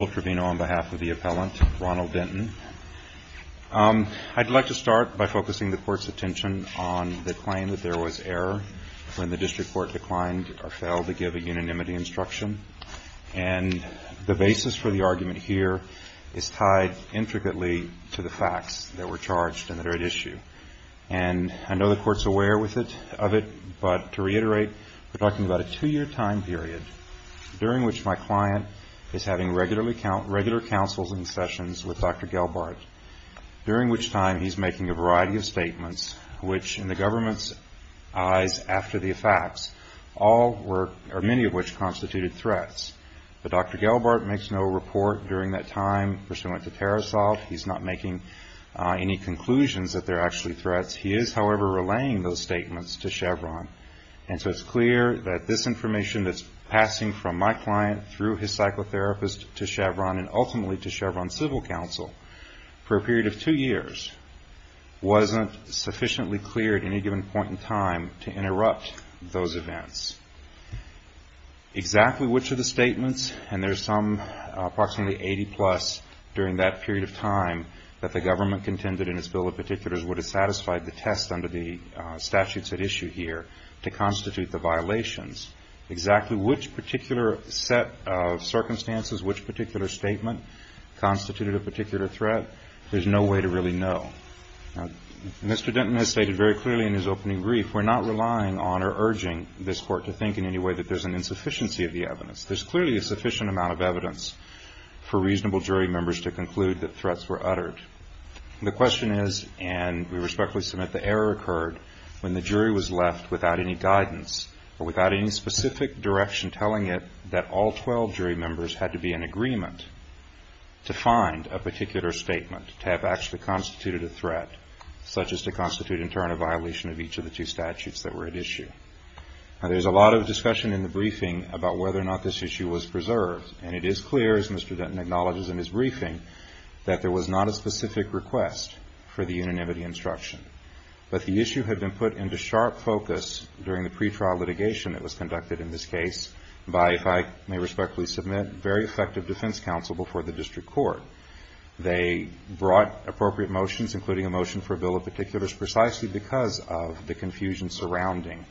on behalf of the appellant, Ronald Denton. I'd like to start by focusing the Court's attention on the claim that there was error when the District Court declined or failed to give a unanimity instruction. And the basis for the argument here is tied intricately to the facts that were charged and that are at issue. And I know the Court's aware of it, but to reiterate, we're talking about a two-year time period during which my client is having regular counseling sessions with Dr. Gelbart, during which time he's making a variety of statements which, in the government's eyes after the facts, many of which constituted threats. But Dr. Gelbart makes no report during that time pursuant to terror assault. He's not making any conclusions that they're actually threats. He is, however, relaying those statements to Chevron. And so it's clear that this information that's passing from my client through his psychotherapist to Chevron and ultimately to Chevron Civil Counsel for a period of two years wasn't sufficiently clear at any given point in time to interrupt those events. Exactly which of the statements, and there's some approximately 80-plus during that period of time that the government contended in its bill of particulars would have satisfied the statutes at issue here to constitute the violations, exactly which particular set of circumstances, which particular statement constituted a particular threat, there's no way to really know. Mr. Denton has stated very clearly in his opening brief, we're not relying on or urging this Court to think in any way that there's an insufficiency of the evidence. There's clearly a sufficient amount of evidence for reasonable jury members to conclude that threats were uttered. The question is, and we respectfully submit, the error occurred when the jury was left without any guidance or without any specific direction telling it that all 12 jury members had to be in agreement to find a particular statement to have actually constituted a threat, such as to constitute in turn a violation of each of the two statutes that were at issue. Now there's a lot of discussion in the briefing about whether or not this issue was preserved and it is clear, as Mr. Denton acknowledges in his briefing, that there was not a specific request for the unanimity instruction. But the issue had been put into sharp focus during the pretrial litigation that was conducted in this case by, if I may respectfully submit, very effective defense counsel before the District Court. They brought appropriate motions, including a motion for a bill of particulars, precisely because of the confusion surrounding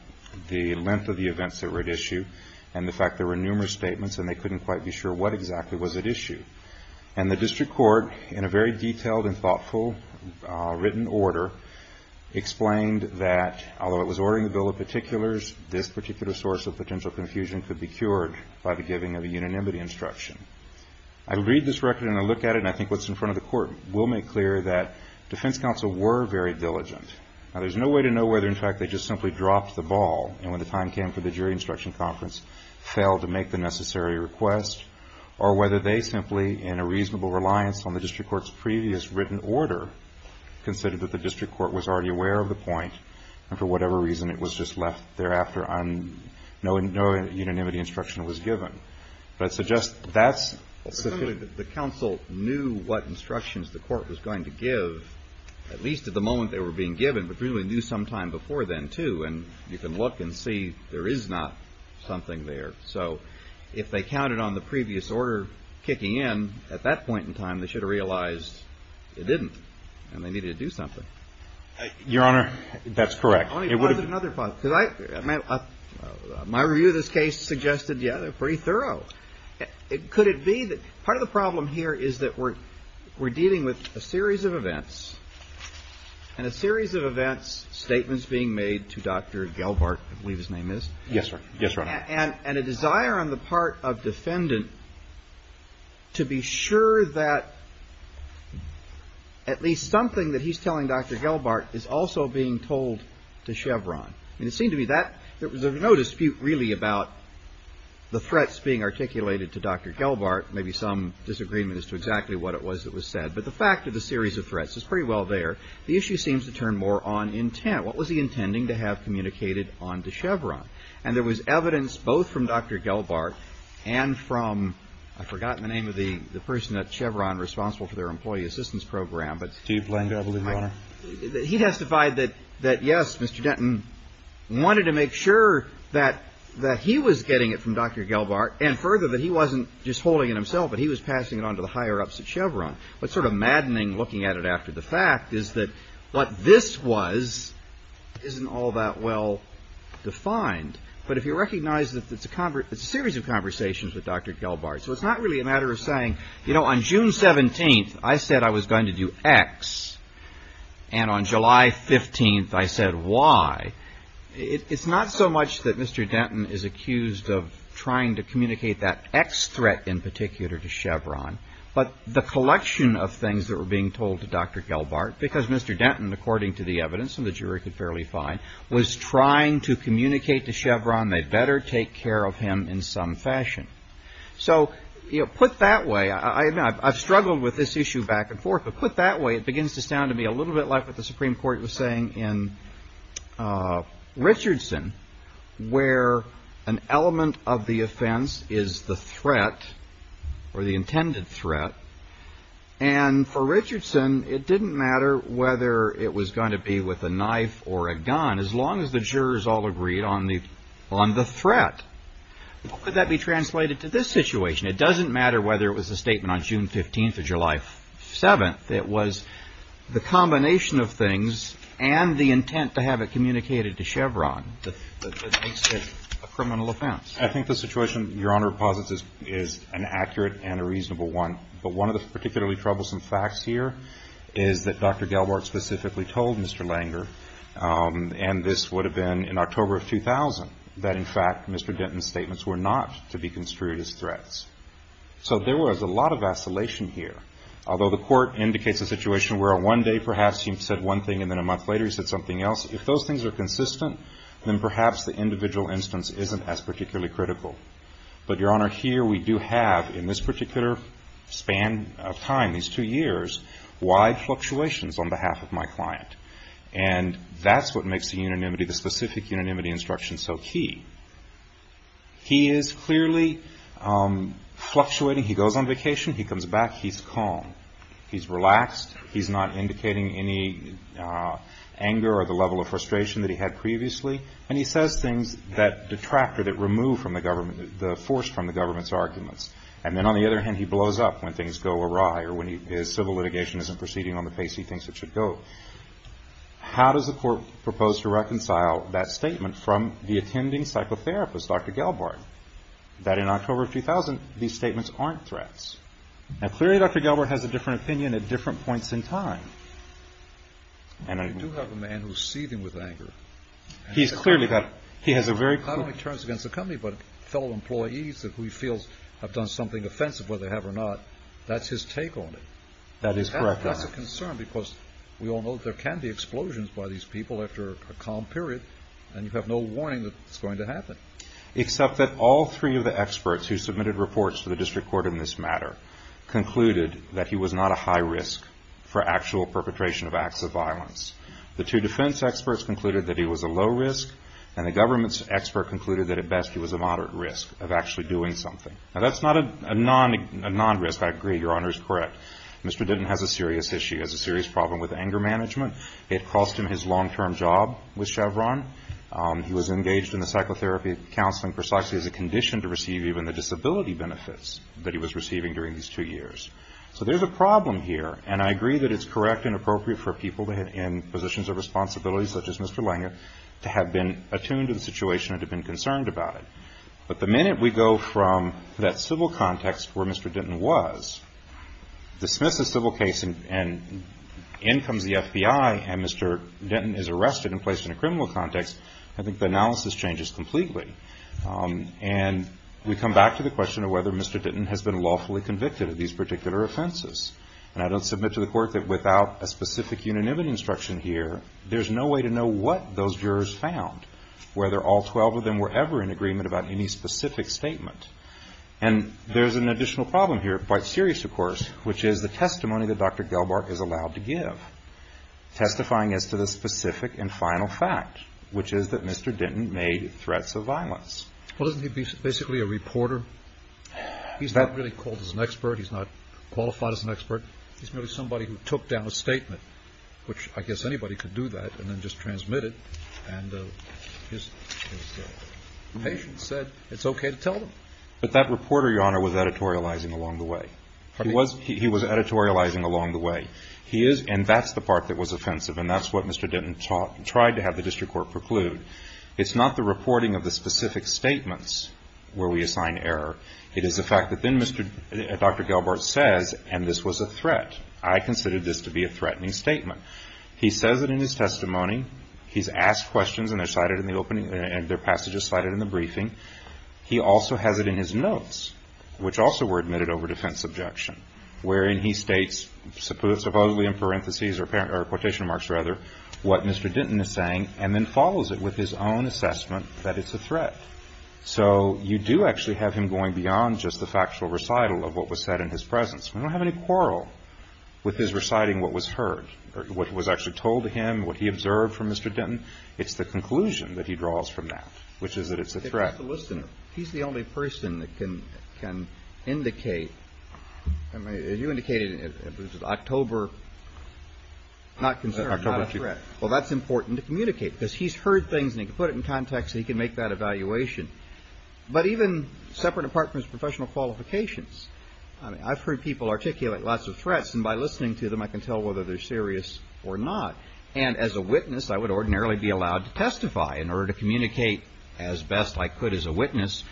the length of the events that were at issue and the fact there were numerous statements and they couldn't quite be sure what exactly was at issue. And the District Court, in a very detailed and thoughtful written order, explained that although it was ordering a bill of particulars, this particular source of potential confusion could be cured by the giving of a unanimity instruction. I read this record and I look at it and I think what's in front of the court will make clear that defense counsel were very diligent. Now there's no way to know whether in fact they just simply dropped the ball and when the time came for a request or whether they simply, in a reasonable reliance on the District Court's previous written order, considered that the District Court was already aware of the point and for whatever reason it was just left there after no unanimity instruction was given. But so just that's... The counsel knew what instructions the court was going to give, at least at the moment they were being given, but really knew sometime before then, too. And you can look and see there is not something there. So if they counted on the previous order kicking in at that point in time, they should have realized it didn't and they needed to do something. Your Honor, that's correct. It would have been another point. My review of this case suggested, yeah, they're pretty thorough. Could it be that part of the problem here is that we're dealing with a series of events and a series of events, statements being made to Dr. Gelbart, I believe his name is. Yes, Your Honor. And a desire on the part of defendant to be sure that at least something that he's telling Dr. Gelbart is also being told to Chevron. And it seemed to me that there was no dispute really about the threats being articulated to Dr. Gelbart, maybe some disagreement as to exactly what it was that was said. But the fact of the series of threats is pretty well there. The issue seems to turn more on intent. What was he intending to have communicated on to Chevron? And there was evidence both from Dr. Gelbart and from, I forgot the name of the person at Chevron responsible for their employee assistance program, but. Steve Blank, I believe, Your Honor. He testified that, yes, Mr. Denton wanted to make sure that he was getting it from Dr. Gelbart and further that he wasn't just holding it himself, but he was passing it on to the higher ups at Chevron. What's sort of maddening looking at it after the fact is that what this was isn't all that well defined. But if you recognize that it's a series of conversations with Dr. Gelbart, so it's not really a matter of saying, you know, on June 17th, I said I was going to do X. And on July 15th, I said Y. It's not so much that Mr. Denton is accused of trying to communicate that X threat in particular to Chevron, but the collection of things that were being told to Dr. Gelbart, because Mr. Denton, according to the evidence and the jury could fairly find, was trying to communicate to Chevron they'd better take care of him in some fashion. So, you know, put that way, I've struggled with this issue back and forth, but put that way, it begins to sound to me a little bit like what the statement of the offense is the threat, or the intended threat. And for Richardson, it didn't matter whether it was going to be with a knife or a gun, as long as the jurors all agreed on the threat. How could that be translated to this situation? It doesn't matter whether it was a statement on June 15th or July 7th. It was the combination of things and the intent to have it communicated to Chevron that makes it a criminal offense. I think the situation Your Honor posits is an accurate and a reasonable one. But one of the particularly troublesome facts here is that Dr. Gelbart specifically told Mr. Langer, and this would have been in October of 2000, that in fact Mr. Denton's statements were not to be construed as threats. So there was a lot of vacillation here. Although the court indicates a situation where one day perhaps he said one thing and then a month later he said something else, if those things are consistent, then perhaps the individual instance isn't as particularly critical. But Your Honor, here we do have in this particular span of time, these two years, wide fluctuations on behalf of my client. And that's what makes the unanimity, the specific unanimity instruction so key. He is clearly fluctuating. He goes on vacation. He comes back. He's calm. He's relaxed. He's not indicating any anger or the level of frustration that he had previously. And he says things that detract or that remove from the government, the force from the government's arguments. And then on the other hand, he blows up when things go awry or when his civil litigation isn't proceeding on the pace he thinks it should go. How does the court propose to reconcile that statement from the attending psychotherapist, Dr. Gelbart, that in October of 2000, these statements aren't threats? Now clearly Dr. Gelbart has a different opinion at different points in time. You do have a man who's seething with anger. He's clearly got, he has a very... Not only turns against the company, but fellow employees who he feels have done something offensive, whether they have or not. That's his take on it. That is correct, Your Honor. That's a concern because we all know there can be explosions by these people after a Except that all three of the experts who submitted reports to the district court in this matter concluded that he was not a high risk for actual perpetration of acts of violence. The two defense experts concluded that he was a low risk. And the government's expert concluded that at best he was a moderate risk of actually doing something. Now that's not a non-risk. I agree. Your Honor is correct. Mr. Denton has a serious issue. He has a serious problem with anger management. It cost him his long-term job with Chevron. He was engaged in the psychotherapy counseling precisely as a condition to receive even the disability benefits that he was receiving during these two years. So there's a problem here. And I agree that it's correct and appropriate for people in positions of responsibility such as Mr. Lange to have been attuned to the situation and to have been concerned about it. But the minute we go from that civil context where Mr. Denton was, dismiss the civil case and in comes the FBI and Mr. Denton is arrested and placed in a criminal context, I think the analysis changes completely. And we come back to the question of whether Mr. Denton has been lawfully convicted of these particular offenses. And I don't submit to the court that without a specific unanimity instruction here, there's no way to know what those jurors found, whether all 12 of them were ever in agreement about any specific statement. And there's an additional problem here, quite serious of course, which is the testimony that Dr. Gelbarg is allowed to give, testifying as to the specific and final fact, which is that Mr. Denton made threats of violence. Well, isn't he basically a reporter? He's not really called as an expert. He's not qualified as an expert. He's merely somebody who took down a statement, which I guess anybody could do that, and then just transmit it. And his patient said it's okay to tell them. But that reporter, Your Honor, was editorializing along the way. He was editorializing along the way. And that's the part that was offensive, and that's what Mr. Denton tried to have the district court preclude. It's not the reporting of the specific statements where we assign error. It is the fact that then Dr. Gelbarg says, and this was a threat, I considered this to be a threatening statement. He says it in his testimony. He's asked questions, and they're cited in the opening, and their passage is cited in the briefing. He also has it in his notes, which also were admitted over defense objection, wherein he states supposedly in parentheses or quotation marks, rather, what Mr. Denton is saying, and then follows it with his own assessment that it's a threat. So you do actually have him going beyond just the factual recital of what was said in his presence. We don't have any quarrel with his reciting what was heard, what was actually told to him, what he observed from Mr. Denton. It's the conclusion that he draws from that, which is that it's a threat. He's just a listener. He's the only person that can indicate. You indicated it was an October, not concern, not a threat. Well, that's important to communicate because he's heard things, and he can put it in context, and he can make that evaluation. But even separate apart from his professional qualifications, I've heard people articulate lots of threats, and by listening to them, I can tell whether they're serious or not. And as a witness, I would ordinarily be allowed to testify in order to communicate as best I could as a witness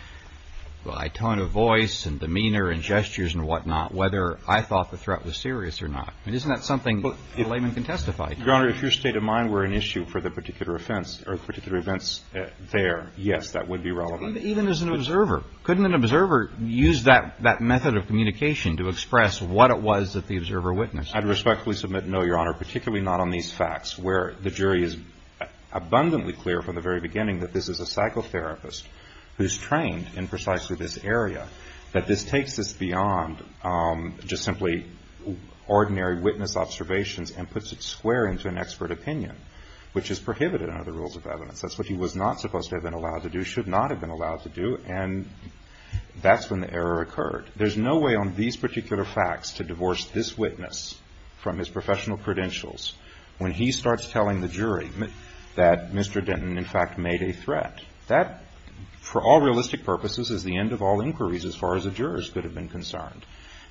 by tone of voice and demeanor and gestures and whatnot, whether I thought the threat was serious or not. I mean, isn't that something a layman can testify to? Your Honor, if your state of mind were an issue for the particular offense or particular events there, yes, that would be relevant. Even as an observer. Couldn't an observer use that method of communication to express what it was that the observer witnessed? I'd respectfully submit no, Your Honor, particularly not on these facts where the jury is abundantly clear from the very beginning that this is a psychotherapist who's trained in precisely this area, that this takes this beyond just simply ordinary witness observations and puts it square into an expert opinion, which is prohibited under the rules of evidence. That's what he was not supposed to have been allowed to do, should not have been allowed to do, and that's when the error occurred. There's no way on these particular facts to divorce this witness from his professional credentials when he starts telling the jury that Mr. Denton, in fact, made a threat. That, for all realistic purposes, is the end of all inquiries as far as the jurors could have been concerned,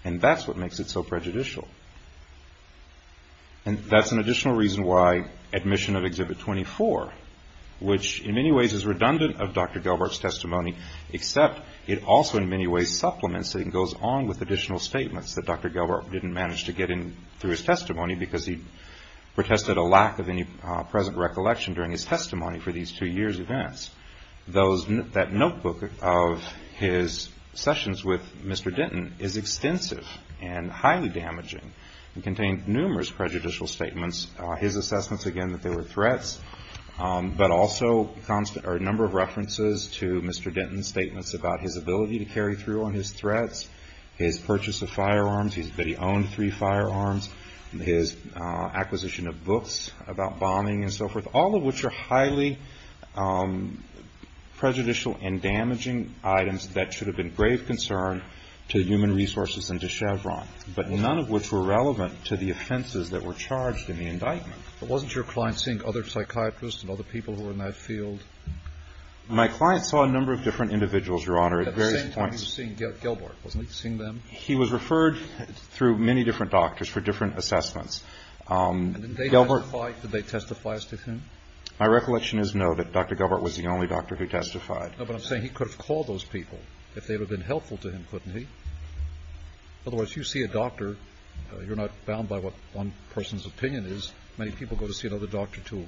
and that's what makes it so prejudicial. And that's an additional reason why admission of Exhibit 24, except it also in many ways supplements and goes on with additional statements that Dr. Gelbart didn't manage to get in through his testimony because he protested a lack of any present recollection during his testimony for these two years' events. That notebook of his sessions with Mr. Denton is extensive and highly damaging and contained numerous prejudicial statements, his assessments, again, that they were threats, but also a number of references to Mr. Denton's statements about his ability to carry through on his threats, his purchase of firearms, that he owned three firearms, his acquisition of books about bombing and so forth, all of which are highly prejudicial and damaging items that should have been grave concern to human resources and to Chevron, but none of which were relevant to the offenses that were charged in the indictment. But wasn't your client seeing other psychiatrists and other people who were in that field? My client saw a number of different individuals, Your Honor, at various points. At the same time, he was seeing Gelbart, wasn't he, seeing them? He was referred through many different doctors for different assessments. And did they testify as to him? My recollection is, no, that Dr. Gelbart was the only doctor who testified. No, but I'm saying he could have called those people if they would have been helpful to him, couldn't he? Otherwise, you see a doctor, you're not bound by what one person's opinion is. Many people go to see another doctor to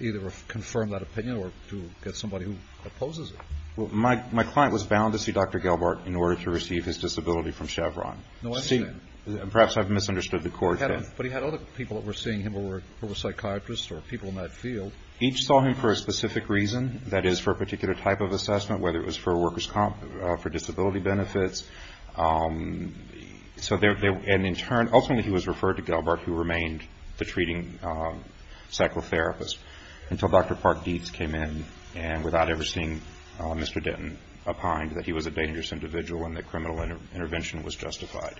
either confirm that opinion or to get somebody who opposes it. Well, my client was bound to see Dr. Gelbart in order to receive his disability from Chevron. No, I understand. Perhaps I've misunderstood the court. But he had other people that were seeing him who were psychiatrists or people in that field. Each saw him for a specific reason, that is, for a particular type of assessment, whether it was for disability benefits. And in turn, ultimately he was referred to Gelbart, who remained the treating psychotherapist, until Dr. Park Dietz came in and, without ever seeing Mr. Denton, opined that he was a dangerous individual and that criminal intervention was justified.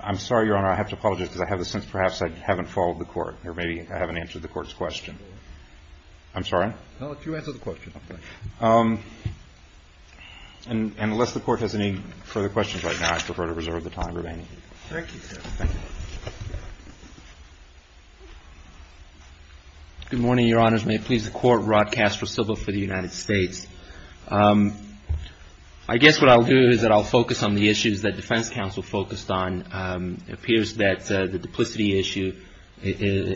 I'm sorry, Your Honor, I have to apologize because I have the sense perhaps I haven't followed the court or maybe I haven't answered the court's question. I'm sorry? No, you answered the question. Okay. And unless the court has any further questions right now, I prefer to reserve the time remaining. Thank you, sir. Thank you. Good morning, Your Honors. May it please the Court. Rod Castro, civil for the United States. I guess what I'll do is that I'll focus on the issues that defense counsel focused on. It appears that the duplicity issue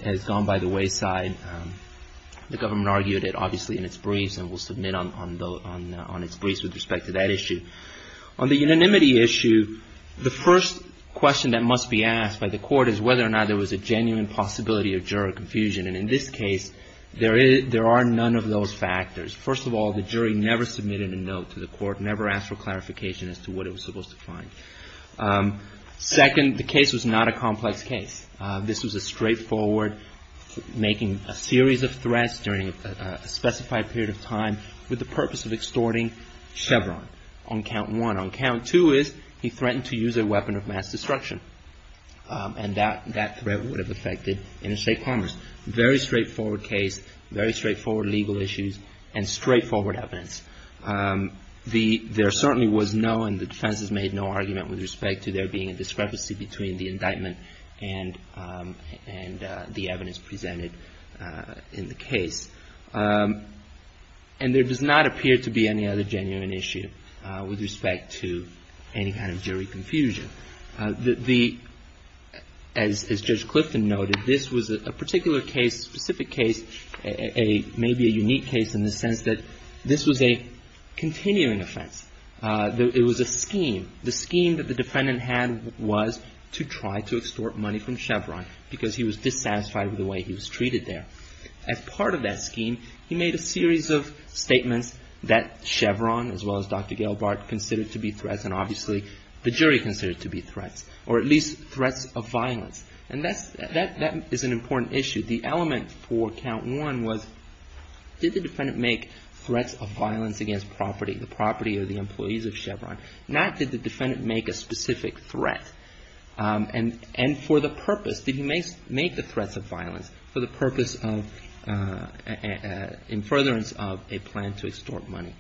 has gone by the wayside. The government argued it, obviously, in its briefs and will submit on its briefs with respect to that issue. On the unanimity issue, the first question that must be asked by the court is whether or not there was a genuine possibility of juror confusion. And in this case, there are none of those factors. First of all, the jury never submitted a note to the court, never asked for clarification as to what it was supposed to find. Second, the case was not a complex case. This was a straightforward making a series of threats during a specified period of time with the purpose of extorting Chevron on count one. On count two is he threatened to use a weapon of mass destruction. And that threat would have affected interstate commerce. Very straightforward case, very straightforward legal issues and straightforward evidence. There certainly was no, and the defense has made no argument with respect to there being a discrepancy between the indictment and the evidence presented in the case. And there does not appear to be any other genuine issue with respect to any kind of jury confusion. The, as Judge Clifton noted, this was a particular case, specific case, maybe a unique case in the sense that this was a continuing offense. It was a scheme. The scheme that the defendant had was to try to extort money from Chevron because he was dissatisfied with the way he was treated there. As part of that scheme, he made a series of statements that Chevron, as well as Dr. Gail Barth, considered to be threats, and obviously the jury considered to be threats, or at least threats of violence. And that is an important issue. The element for count one was did the defendant make threats of violence against property, the property of the individual? Did he make threats of violence against the employees of Chevron? Not did the defendant make a specific threat. And for the purpose, did he make the threats of violence for the purpose of, in furtherance of, a plan to extort money?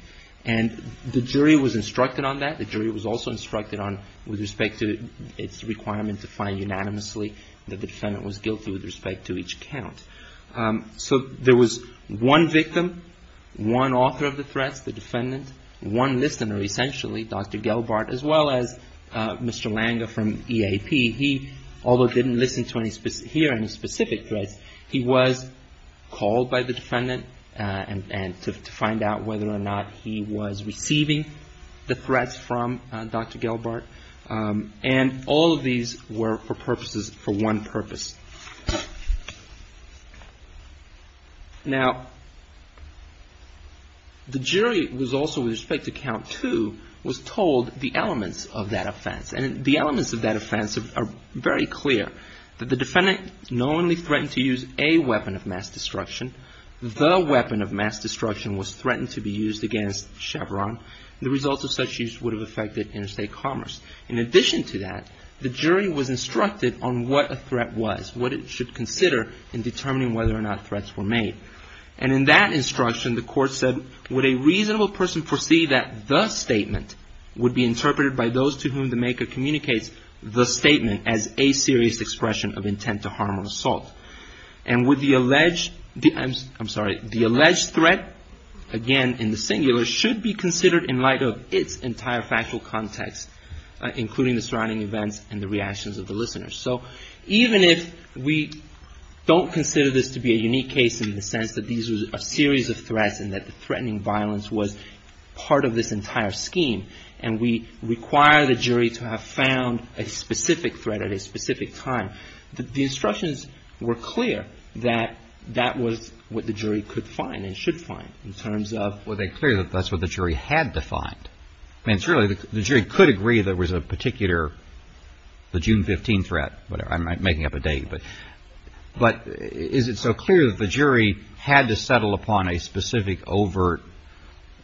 And the jury was instructed on that. The jury was also instructed on, with respect to its requirement to find unanimously that the defendant was guilty with respect to each count. So there was one victim, one author of the threats, the defendant, one listener, essentially, Dr. Gail Barth, as well as Mr. Langer from EAP. He, although didn't hear any specific threats, he was called by the defendant to find out whether or not he was receiving the threats from Dr. Gail Barth. And all of these were for purposes, for one purpose. Now, the jury was also, with respect to count two, was told the elements of that offense. And the elements of that offense are very clear, that the defendant not only threatened to use a weapon of mass destruction, the weapon of mass destruction was threatened to be used against Chevron. The results of such use would have affected interstate commerce. In addition to that, the jury was instructed on what a threat was. What it should consider in determining whether or not threats were made. And in that instruction, the court said, would a reasonable person foresee that the statement would be interpreted by those to whom the maker communicates the statement as a serious expression of intent to harm or assault. And would the alleged, I'm sorry, the alleged threat, again in the singular, should be considered in light of its entire factual context, including the surrounding events and the reactions of the listeners. So even if we don't consider this to be a unique case in the sense that these were a series of threats and that the threatening violence was part of this entire scheme, and we require the jury to have found a specific threat at a specific time, the instructions were clear that that was what the jury could find and should find in terms of. Well, they're clear that that's what the jury had defined. I mean, it's really, the jury could agree there was a particular, the June 15th threat. I'm making up a date, but is it so clear that the jury had to settle upon a specific overt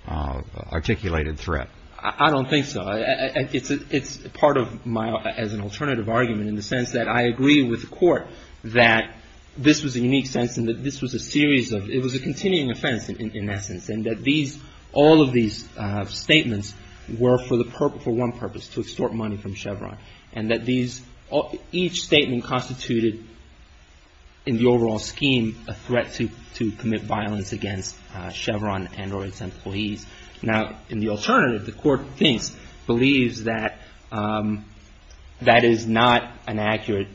articulated threat? I don't think so. It's part of my, as an alternative argument in the sense that I agree with the court that this was a unique sense and that this was a series of, it was a continuing offense in essence, and that these, all of these statements were for one purpose, to extort money from the jury. Each statement constituted in the overall scheme a threat to commit violence against Chevron and or its employees. Now, in the alternative, the court thinks, believes that that is not an accurate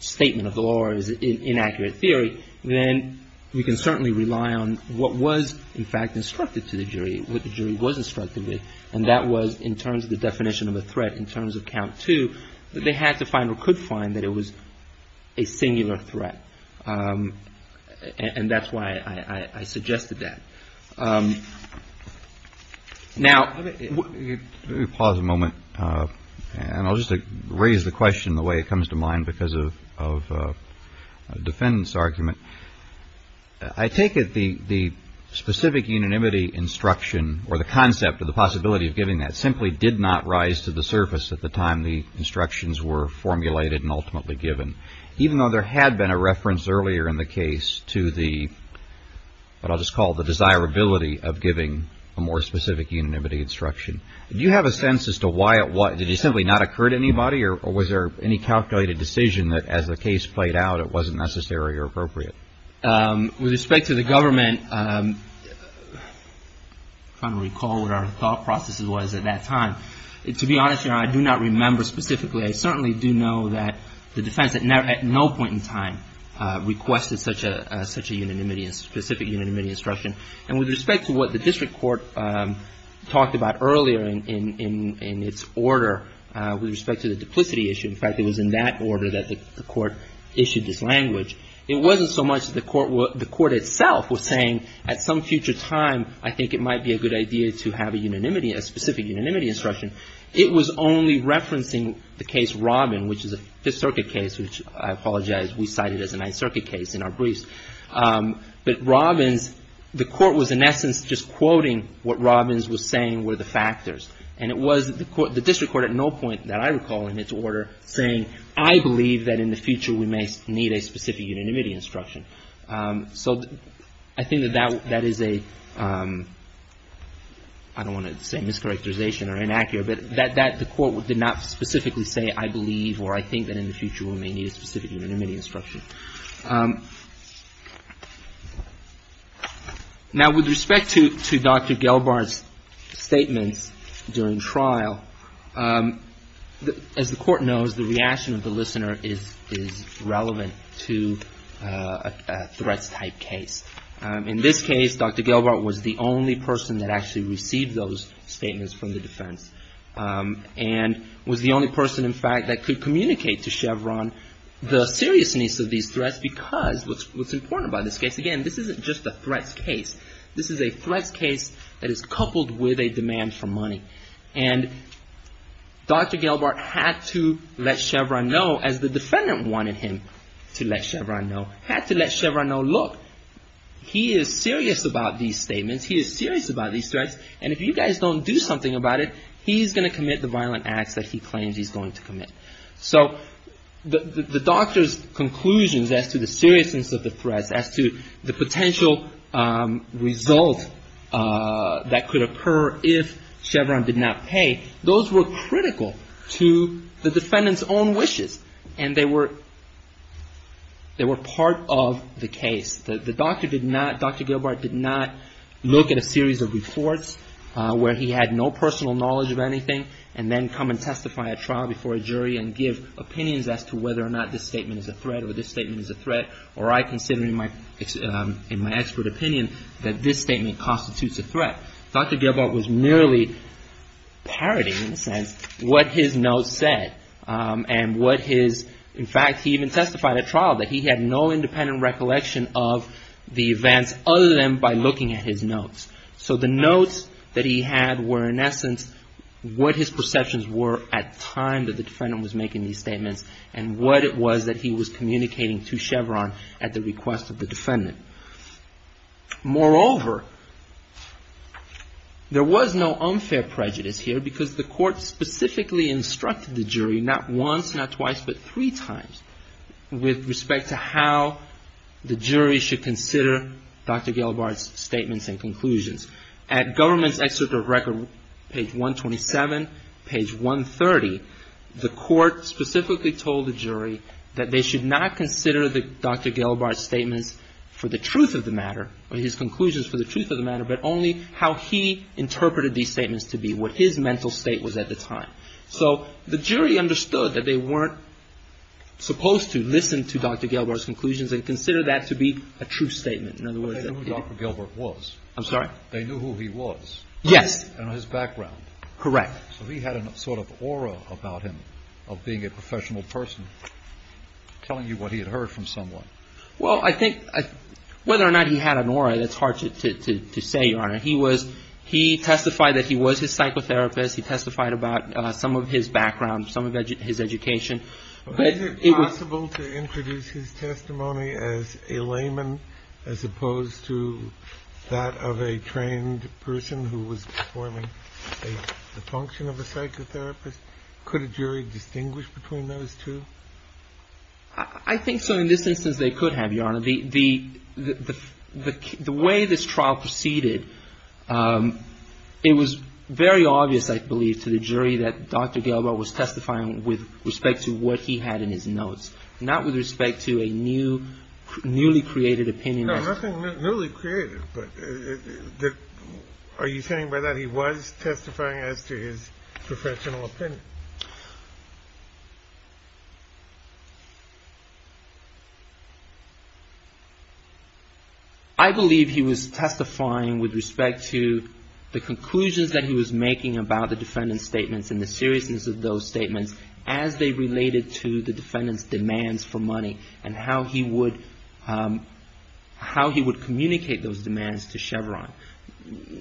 statement of the law or is an inaccurate theory, then we can certainly rely on what was in fact instructed to the jury, what the jury was instructed with, and that was in terms of the threat, and that it was a singular threat. And that's why I suggested that. Now... Let me pause a moment, and I'll just raise the question the way it comes to mind because of a defendant's argument. I take it the specific unanimity instruction or the concept or the possibility of giving that simply did not rise to the surface at the time the instructions were formulated and ultimately given. Even though there had been a reference earlier in the case to the, what I'll just call the desirability of giving a more specific unanimity instruction. Do you have a sense as to why it was, did it simply not occur to anybody or was there any calculated decision that as the case played out it wasn't necessary or appropriate? With respect to the government, I'm trying to recall what our thought process was at that time. To be honest, Your Honor, I do not remember specifically. I certainly do know that the defense at no point in time requested such a unanimity, a specific unanimity instruction. And with respect to what the district court talked about earlier in its order with respect to the duplicity issue, in fact it was in that order that the court issued this language, it wasn't so much the court itself was saying at some future time I think it might be a good idea to have a unanimity, a specific unanimity instruction. It was only referencing the case Robbins, which is a Fifth Circuit case, which I apologize, we cite it as a Ninth Circuit case in our briefs. But Robbins, the court was in essence just quoting what Robbins was saying were the factors. And it was the district court at no point that I recall in its order saying I believe that in the future we may need a specific unanimity instruction. So I think that that is a, I don't want to say mischaracterization or inaccurate, but that the court did not specifically say I believe or I think that in the future we may need a specific unanimity instruction. Now with respect to Dr. Gelbart's statements during trial, as the court knows, the reaction of the listener is relevant to a case like a threats type case. In this case, Dr. Gelbart was the only person that actually received those statements from the defense. And was the only person in fact that could communicate to Chevron the seriousness of these threats because what's important about this case, again, this isn't just a threats case. This is a threats case that is coupled with a demand for money. And Dr. Gelbart had to let Chevron know, as the defendant wanted him to let Chevron know, had to let Chevron know that there was He had to let Chevron know, look, he is serious about these statements. He is serious about these threats. And if you guys don't do something about it, he's going to commit the violent acts that he claims he's going to commit. So the doctor's conclusions as to the seriousness of the threats, as to the potential result that could occur if Chevron did not pay, those were critical to the defendant's own wishes. And they were part of the case. The doctor did not, Dr. Gelbart did not look at a series of reports where he had no personal knowledge of anything and then come and testify at trial before a jury and give opinions as to whether or not this statement is a threat or this statement is a threat. Or I consider in my expert opinion that this statement constitutes a threat. Dr. Gelbart was merely parodying, in a sense, what his notes said. And what his, in fact, he even testified at trial that he had no independent recollection of the events other than by looking at his notes. So the notes that he had were, in essence, what his perceptions were at the time that the defendant was making these statements. And what it was that he was communicating to Chevron at the request of the defendant. Moreover, there was no unfair prejudice here because the court specifically instructed the jury to look at the notes. The court instructed the jury not once, not twice, but three times with respect to how the jury should consider Dr. Gelbart's statements and conclusions. At Government's Excerpt of Record, page 127, page 130, the court specifically told the jury that they should not consider Dr. Gelbart's statements for the truth of the matter, his conclusions for the truth of the matter, but only how he interpreted these statements to be, what his mental state was at the time. So the jury understood that they weren't supposed to listen to Dr. Gelbart's conclusions and consider that to be a true statement. In other words, they knew who Dr. Gelbart was. I'm sorry? They knew who he was. Yes. And his background. Correct. So he had a sort of aura about him of being a professional person telling you what he had heard from someone. Well, I think whether or not he had an aura, that's hard to say, Your Honor. He was, he testified that he was his psychotherapist. He testified about some of his background, some of his education. Is it possible to introduce his testimony as a layman as opposed to that of a trained person who was performing the function of a psychotherapist? Could a jury distinguish between those two? I think so. In this instance, they could have, Your Honor. The way this trial proceeded, it was very obvious that Dr. Gelbart was a layman. I believe to the jury that Dr. Gelbart was testifying with respect to what he had in his notes, not with respect to a new, newly created opinion. No, nothing newly created. But are you saying by that he was testifying as to his professional opinion? I believe he was testifying with respect to the conclusions that he was making about the different defendant's statements and the seriousness of those statements as they related to the defendant's demands for money and how he would communicate those demands to Chevron.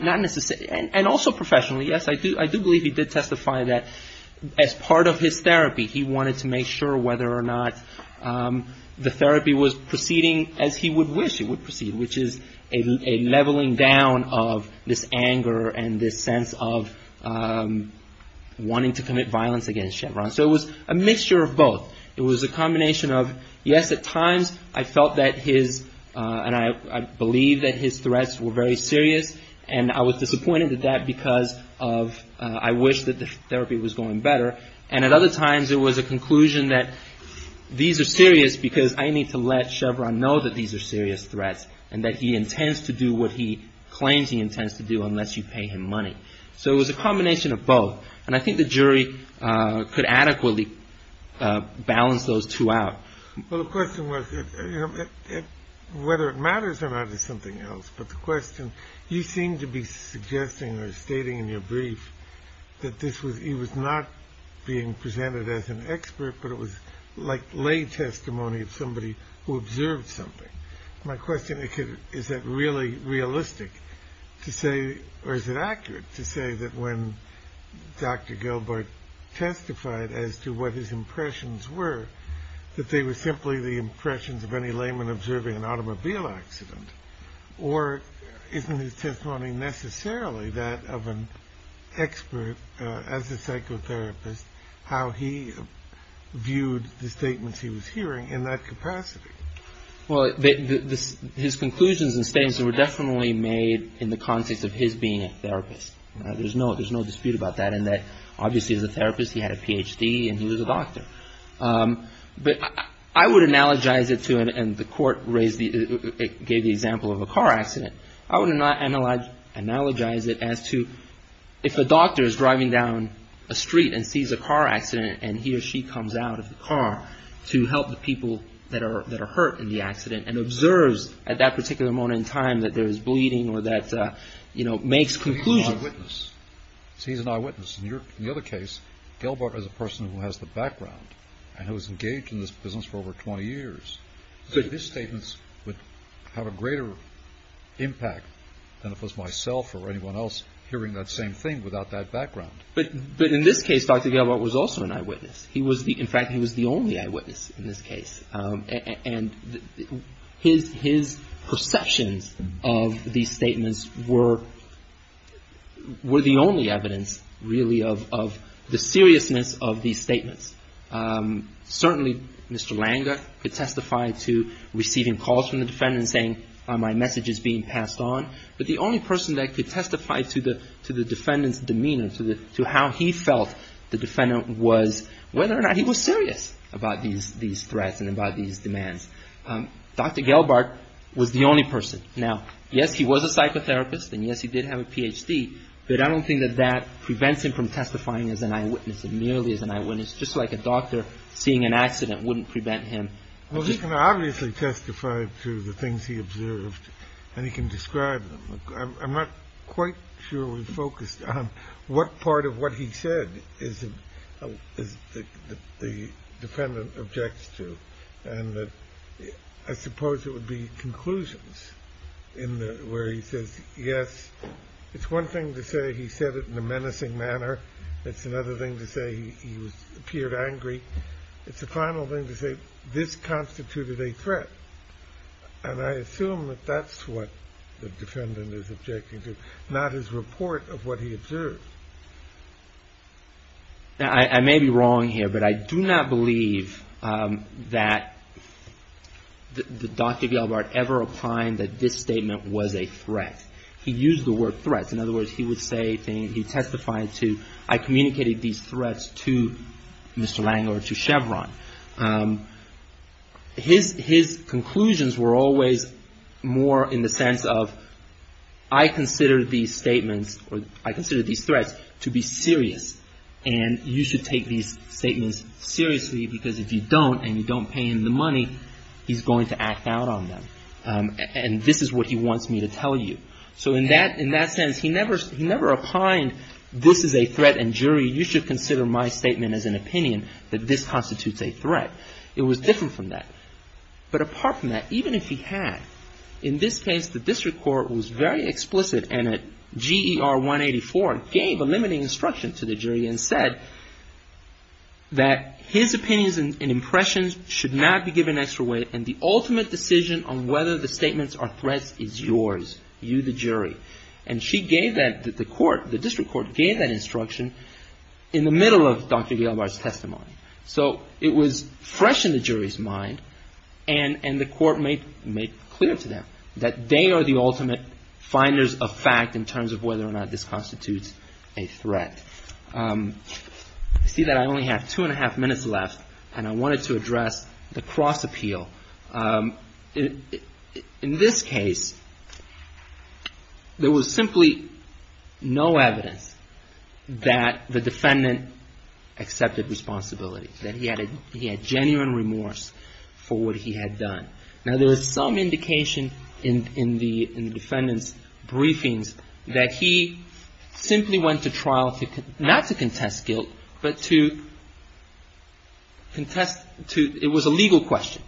And also professionally, yes, I do believe he did testify that as part of his therapy, he wanted to make sure whether or not the therapy was proceeding as he would wish it would proceed, which is a leveling down of this anger and this sense of, you know, wanting to commit violence against Chevron. So it was a mixture of both. It was a combination of, yes, at times I felt that his, and I believe that his threats were very serious, and I was disappointed at that because I wished that the therapy was going better. And at other times it was a conclusion that these are serious because I need to let Chevron know that these are serious threats and that he intends to do what he claims he intends to do unless you pay him money. So it was a combination of both. And I think the jury could adequately balance those two out. Well, the question was whether it matters or not is something else. But the question, you seem to be suggesting or stating in your brief that this was, he was not being presented as an expert, but it was like lay testimony of somebody who observed something. My question is, is that really realistic to say, or is it accurate? Is it realistic to say that when Dr. Gilbert testified as to what his impressions were, that they were simply the impressions of any layman observing an automobile accident? Or isn't his testimony necessarily that of an expert as a psychotherapist, how he viewed the statements he was hearing in that capacity? Well, his conclusions and statements were definitely made in the context of his being a therapist. There's no dispute about that, in that obviously as a therapist he had a Ph.D. and he was a doctor. But I would analogize it to, and the Court gave the example of a car accident, I would analogize it as to if a doctor is driving down a street and sees a car accident and he or she comes out of the car to help the people that are hurt in the accident and observes at that particular moment in time that there is bleeding or that, you know, makes conclusions. So he's an eyewitness. In the other case, Gilbert is a person who has the background and who has engaged in this business for over 20 years. So his statements would have a greater impact than if it was myself or anyone else hearing that same thing without that background. But in this case, Dr. Gilbert was also an eyewitness. In fact, he was the only eyewitness in this case. And his perceptions of these statements were, you know, he was the only eyewitness. His perceptions were the only evidence, really, of the seriousness of these statements. Certainly, Mr. Langer could testify to receiving calls from the defendant saying, my message is being passed on. But the only person that could testify to the defendant's demeanor, to how he felt the defendant was, whether or not he was serious about these threats and about these demands, Dr. Gilbert was the only person. Now, yes, he was a psychotherapist, and yes, he did have a Ph.D., but I don't think that that prevents him from testifying as an eyewitness, merely as an eyewitness, just like a doctor seeing an accident wouldn't prevent him. Well, he can obviously testify to the things he observed, and he can describe them. I'm not quite sure we focused on what part of what he said is the defendant objects to, and I suppose it would be conclusions. In the, where he says, yes, it's one thing to say he said it in a menacing manner. It's another thing to say he appeared angry. It's the final thing to say, this constituted a threat. And I assume that that's what the defendant is objecting to, not his report of what he observed. I may be wrong here, but I do not believe that Dr. Gilbert ever opined that this was a threat. He used the word threat. In other words, he would say, he testified to, I communicated these threats to Mr. Langer or to Chevron. His conclusions were always more in the sense of, I consider these statements, or I consider these threats to be serious, and you should take these statements seriously, because if you don't, and you don't pay him the money, he's going to act out on them. And this is what he wants me to tell you. So in that sense, he never opined, this is a threat, and jury, you should consider my statement as an opinion that this constitutes a threat. It was different from that. But apart from that, even if he had, in this case, the district court was very explicit, and at GER 184, gave a limiting instruction to the jury and said that his opinions and impressions should not be given extra weight, and the ultimate decision on whether the statements are threats is yours, you the jury. And she gave that, the court, the district court gave that instruction in the middle of Dr. Gilbert's testimony. So it was fresh in the jury's mind, and the court made clear to them that they are the ultimate finders of fact in terms of whether or not this constitutes a threat. You see that I only have two and a half minutes left, and I wanted to address the cross-appeal. In this case, there was simply no evidence that the defendant accepted responsibility, that he had genuine remorse for what he had done. Now, there is some indication in the defendant's briefings that he simply went to trial, not to contest guilt, but to contest, it was a legal question.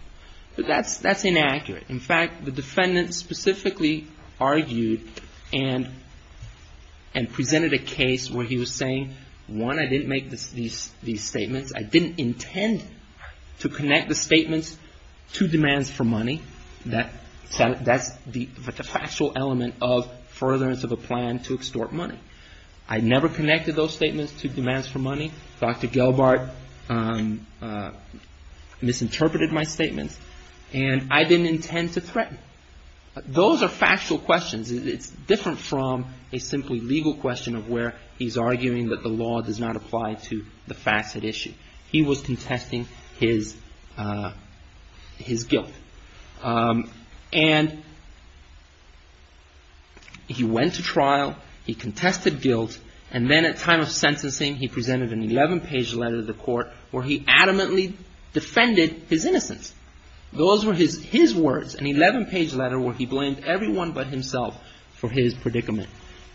But that's inaccurate. In fact, the defendant specifically argued and presented a case where he was saying, one, I didn't make these statements. I didn't intend to connect the statements to demands for money. That's the factual element of furtherance of a plan to extort money. I never connected those statements to demands for money. Dr. Gilbert misinterpreted my statements. And I didn't intend to threaten. Those are factual questions. It's different from a simply legal question of where he's arguing that the law does not apply to the facet issue. He was contesting his guilt. And he went to trial, he contested guilt, and then at time of sentencing, he presented an 11-page letter to the court where he adamantly defended his innocence. Those were his words, an 11-page letter where he blamed everyone but himself for his predicament.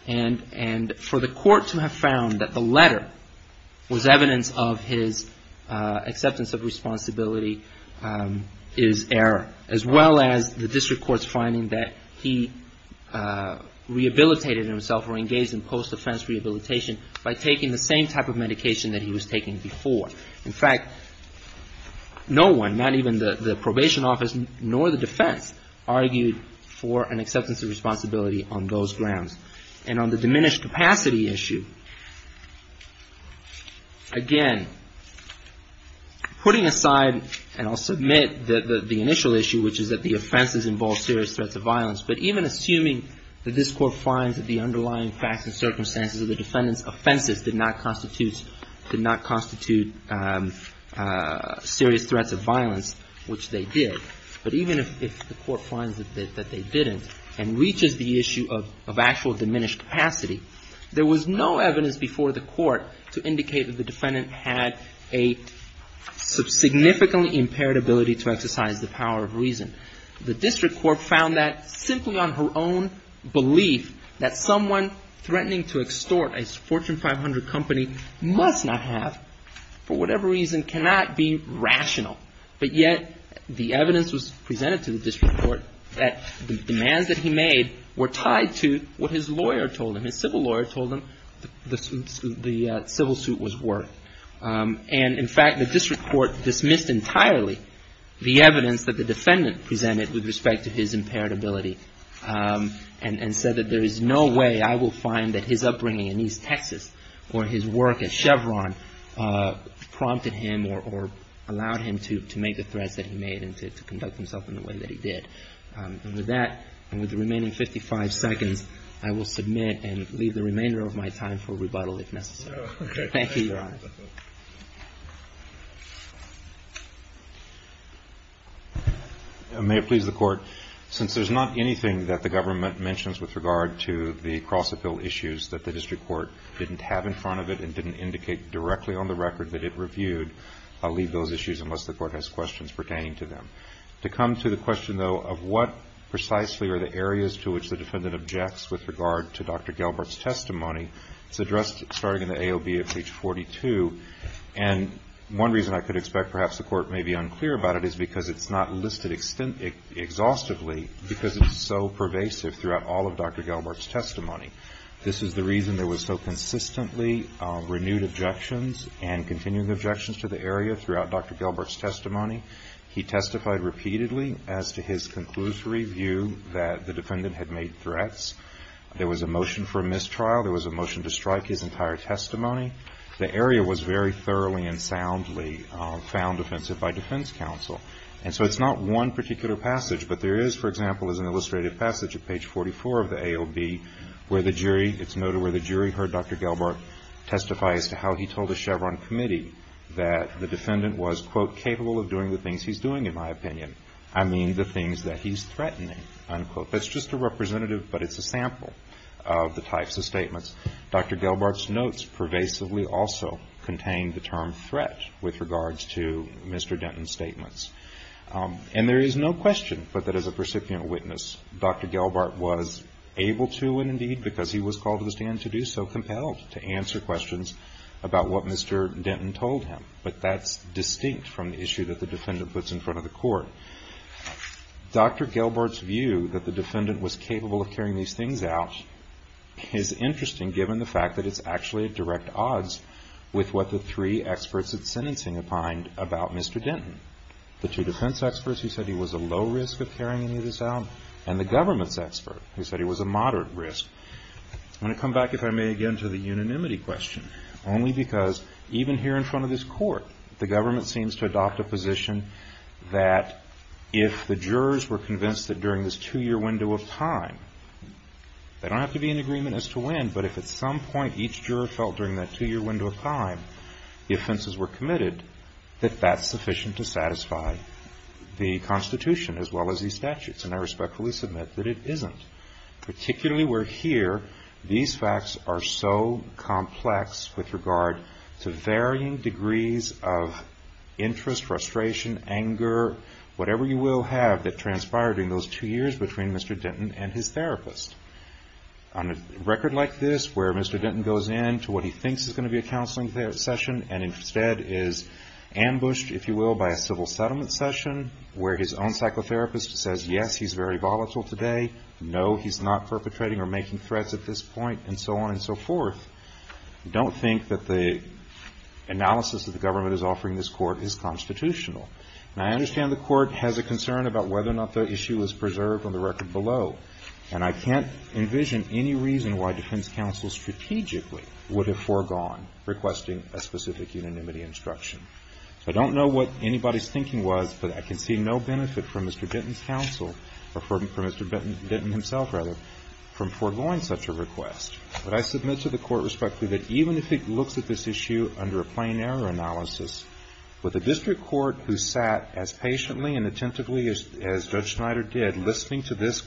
And for the court to have found that the letter was evidence of his acceptance of responsibility is error, as well as the district court's finding that he rehabilitated himself or engaged in post-offense rehabilitation by taking the same type of medication that he was taking before. In fact, no one, not even the probation office nor the defense, argued for an acceptance of responsibility on those grounds. And on the diminished capacity issue, again, putting aside, and I'll submit the initial issue, which is that the offenses involve serious threats of violence. But even assuming that this court finds that the underlying facts and circumstances of the defendant's offenses did not constitute serious threats of violence. Which they did. But even if the court finds that they didn't, and reaches the issue of actual diminished capacity, there was no evidence before the court to indicate that the defendant had a significantly impaired ability to exercise the power of reason. The district court found that simply on her own belief that someone threatening to extort a Fortune 500 company must not have, for whatever reason, the power of reason. For whatever reason, cannot be rational. But yet, the evidence was presented to the district court that the demands that he made were tied to what his lawyer told him. His civil lawyer told him the civil suit was worth. And in fact, the district court dismissed entirely the evidence that the defendant presented with respect to his impaired ability. And said that there is no way I will find that his upbringing in East Texas, or his work at Chevron, prompted him to do so. Or allowed him to make the threats that he made, and to conduct himself in the way that he did. And with that, and with the remaining 55 seconds, I will submit and leave the remainder of my time for rebuttal, if necessary. Thank you, Your Honor. May it please the Court, since there's not anything that the government mentions with regard to the Cross-Appeal issues that the district court didn't have in front of it, and didn't indicate directly on the record that it reviewed. I'll leave those issues unless the Court has questions pertaining to them. To come to the question, though, of what precisely are the areas to which the defendant objects with regard to Dr. Gelbart's testimony, it's addressed starting in the AOB at page 42. And one reason I could expect perhaps the Court may be unclear about it is because it's not listed exhaustively, because it's so pervasive throughout all of Dr. Gelbart's testimony. This is the reason there was so consistently renewed objections, and continuing objections to the Cross-Appeal. There was a motion to strike his entire testimony. He testified repeatedly as to his conclusory view that the defendant had made threats. There was a motion for mistrial. There was a motion to strike his entire testimony. The area was very thoroughly and soundly found offensive by defense counsel. And so it's not one particular passage, but there is, for example, as an illustrated passage at page 44 of the AOB, where the jury, it's noted where the jury heard Dr. Gelbart testify as to how he told the Chevron committee that the defendant had made threats. That the defendant was, quote, capable of doing the things he's doing, in my opinion. I mean the things that he's threatening, unquote. That's just a representative, but it's a sample of the types of statements. Dr. Gelbart's notes pervasively also contain the term threat with regards to Mr. Denton's statements. And there is no question but that as a percipient witness, Dr. Gelbart was able to, and indeed because he was called to the stand to do so, compelled to answer questions about what Mr. Denton told him. But that's distinct from the issue that the defendant puts in front of the court. Dr. Gelbart's view that the defendant was capable of carrying these things out is interesting given the fact that it's actually a direct odds with what the three experts at sentencing opined about Mr. Denton. The two defense experts who said he was a low risk of carrying any of this out, and the government's expert who said he was a moderate risk. I'm going to come back, if I may, again to the unanimity question. Only because even here in front of this court, the government seems to adopt a position that if the jurors were convinced that during this two-year window of time, they don't have to be in agreement as to when, but if at some point each juror felt during that two-year window of time the offenses were committed, that that's sufficient to satisfy the Constitution as well as these statutes. And I respectfully submit that it isn't. Particularly where here, these facts are so complex with regard to varying degrees of interest, frustration, anger, whatever you will have that transpired in those two years between Mr. Denton and his therapist. On a record like this, where Mr. Denton goes in to what he thinks is going to be a counseling session and instead is ambushed, if you will, by a civil settlement session, where his own psychotherapist says, yes, he's very volatile today. No, he's not perpetrating or making threats at this point. And so on and so forth. I don't think that the analysis that the government is offering this Court is constitutional. And I understand the Court has a concern about whether or not the issue is preserved on the record below. And I can't envision any reason why defense counsel strategically would have foregone requesting a specific unanimity instruction. I don't know what anybody's thinking was, but I can see no benefit from Mr. Denton's counsel, or from Mr. Denton himself, rather, from foregoing such a request. But I submit to the Court respectfully that even if it looks at this issue under a plain error analysis, with a district court who sat as patiently and attentively as Judge Schneider did listening to this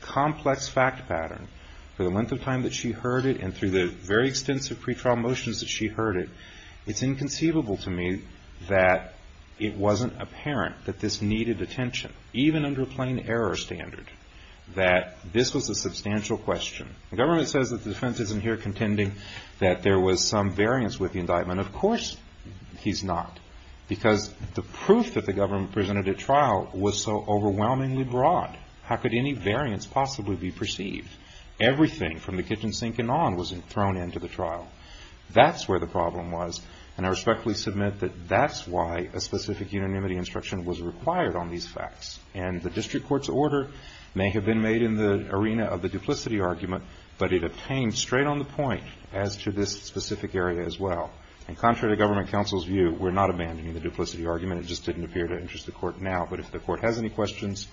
complex fact pattern for the length of time that she heard it and through the very extensive pretrial motions that she heard it, it's inconceivable to me that it wasn't apparent that this needed attention, even under a plain error standard, that this was a substantial question. The government says that the defense isn't here contending that there was some variance with the indictment. Of course he's not, because the proof that the government presented at trial was so overwhelmingly broad. How could any variance possibly be perceived? Everything from the kitchen sink and on was thrown into the trial. That's where the problem was, and I respectfully submit that that's why a specific unanimity instruction was required on these facts. And the district court's order may have been made in the arena of the duplicity argument, but it obtained straight on the point as to this specific area as well. And contrary to government counsel's view, we're not abandoning the duplicity argument. It just didn't appear to interest the Court now, but if the Court has any questions,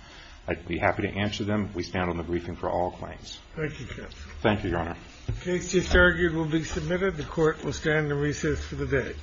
I'd be happy to answer them. We stand on the briefing for all claims. Thank you, counsel. Thank you, Your Honor. The case just argued will be submitted. The Court will stand in recess for the day.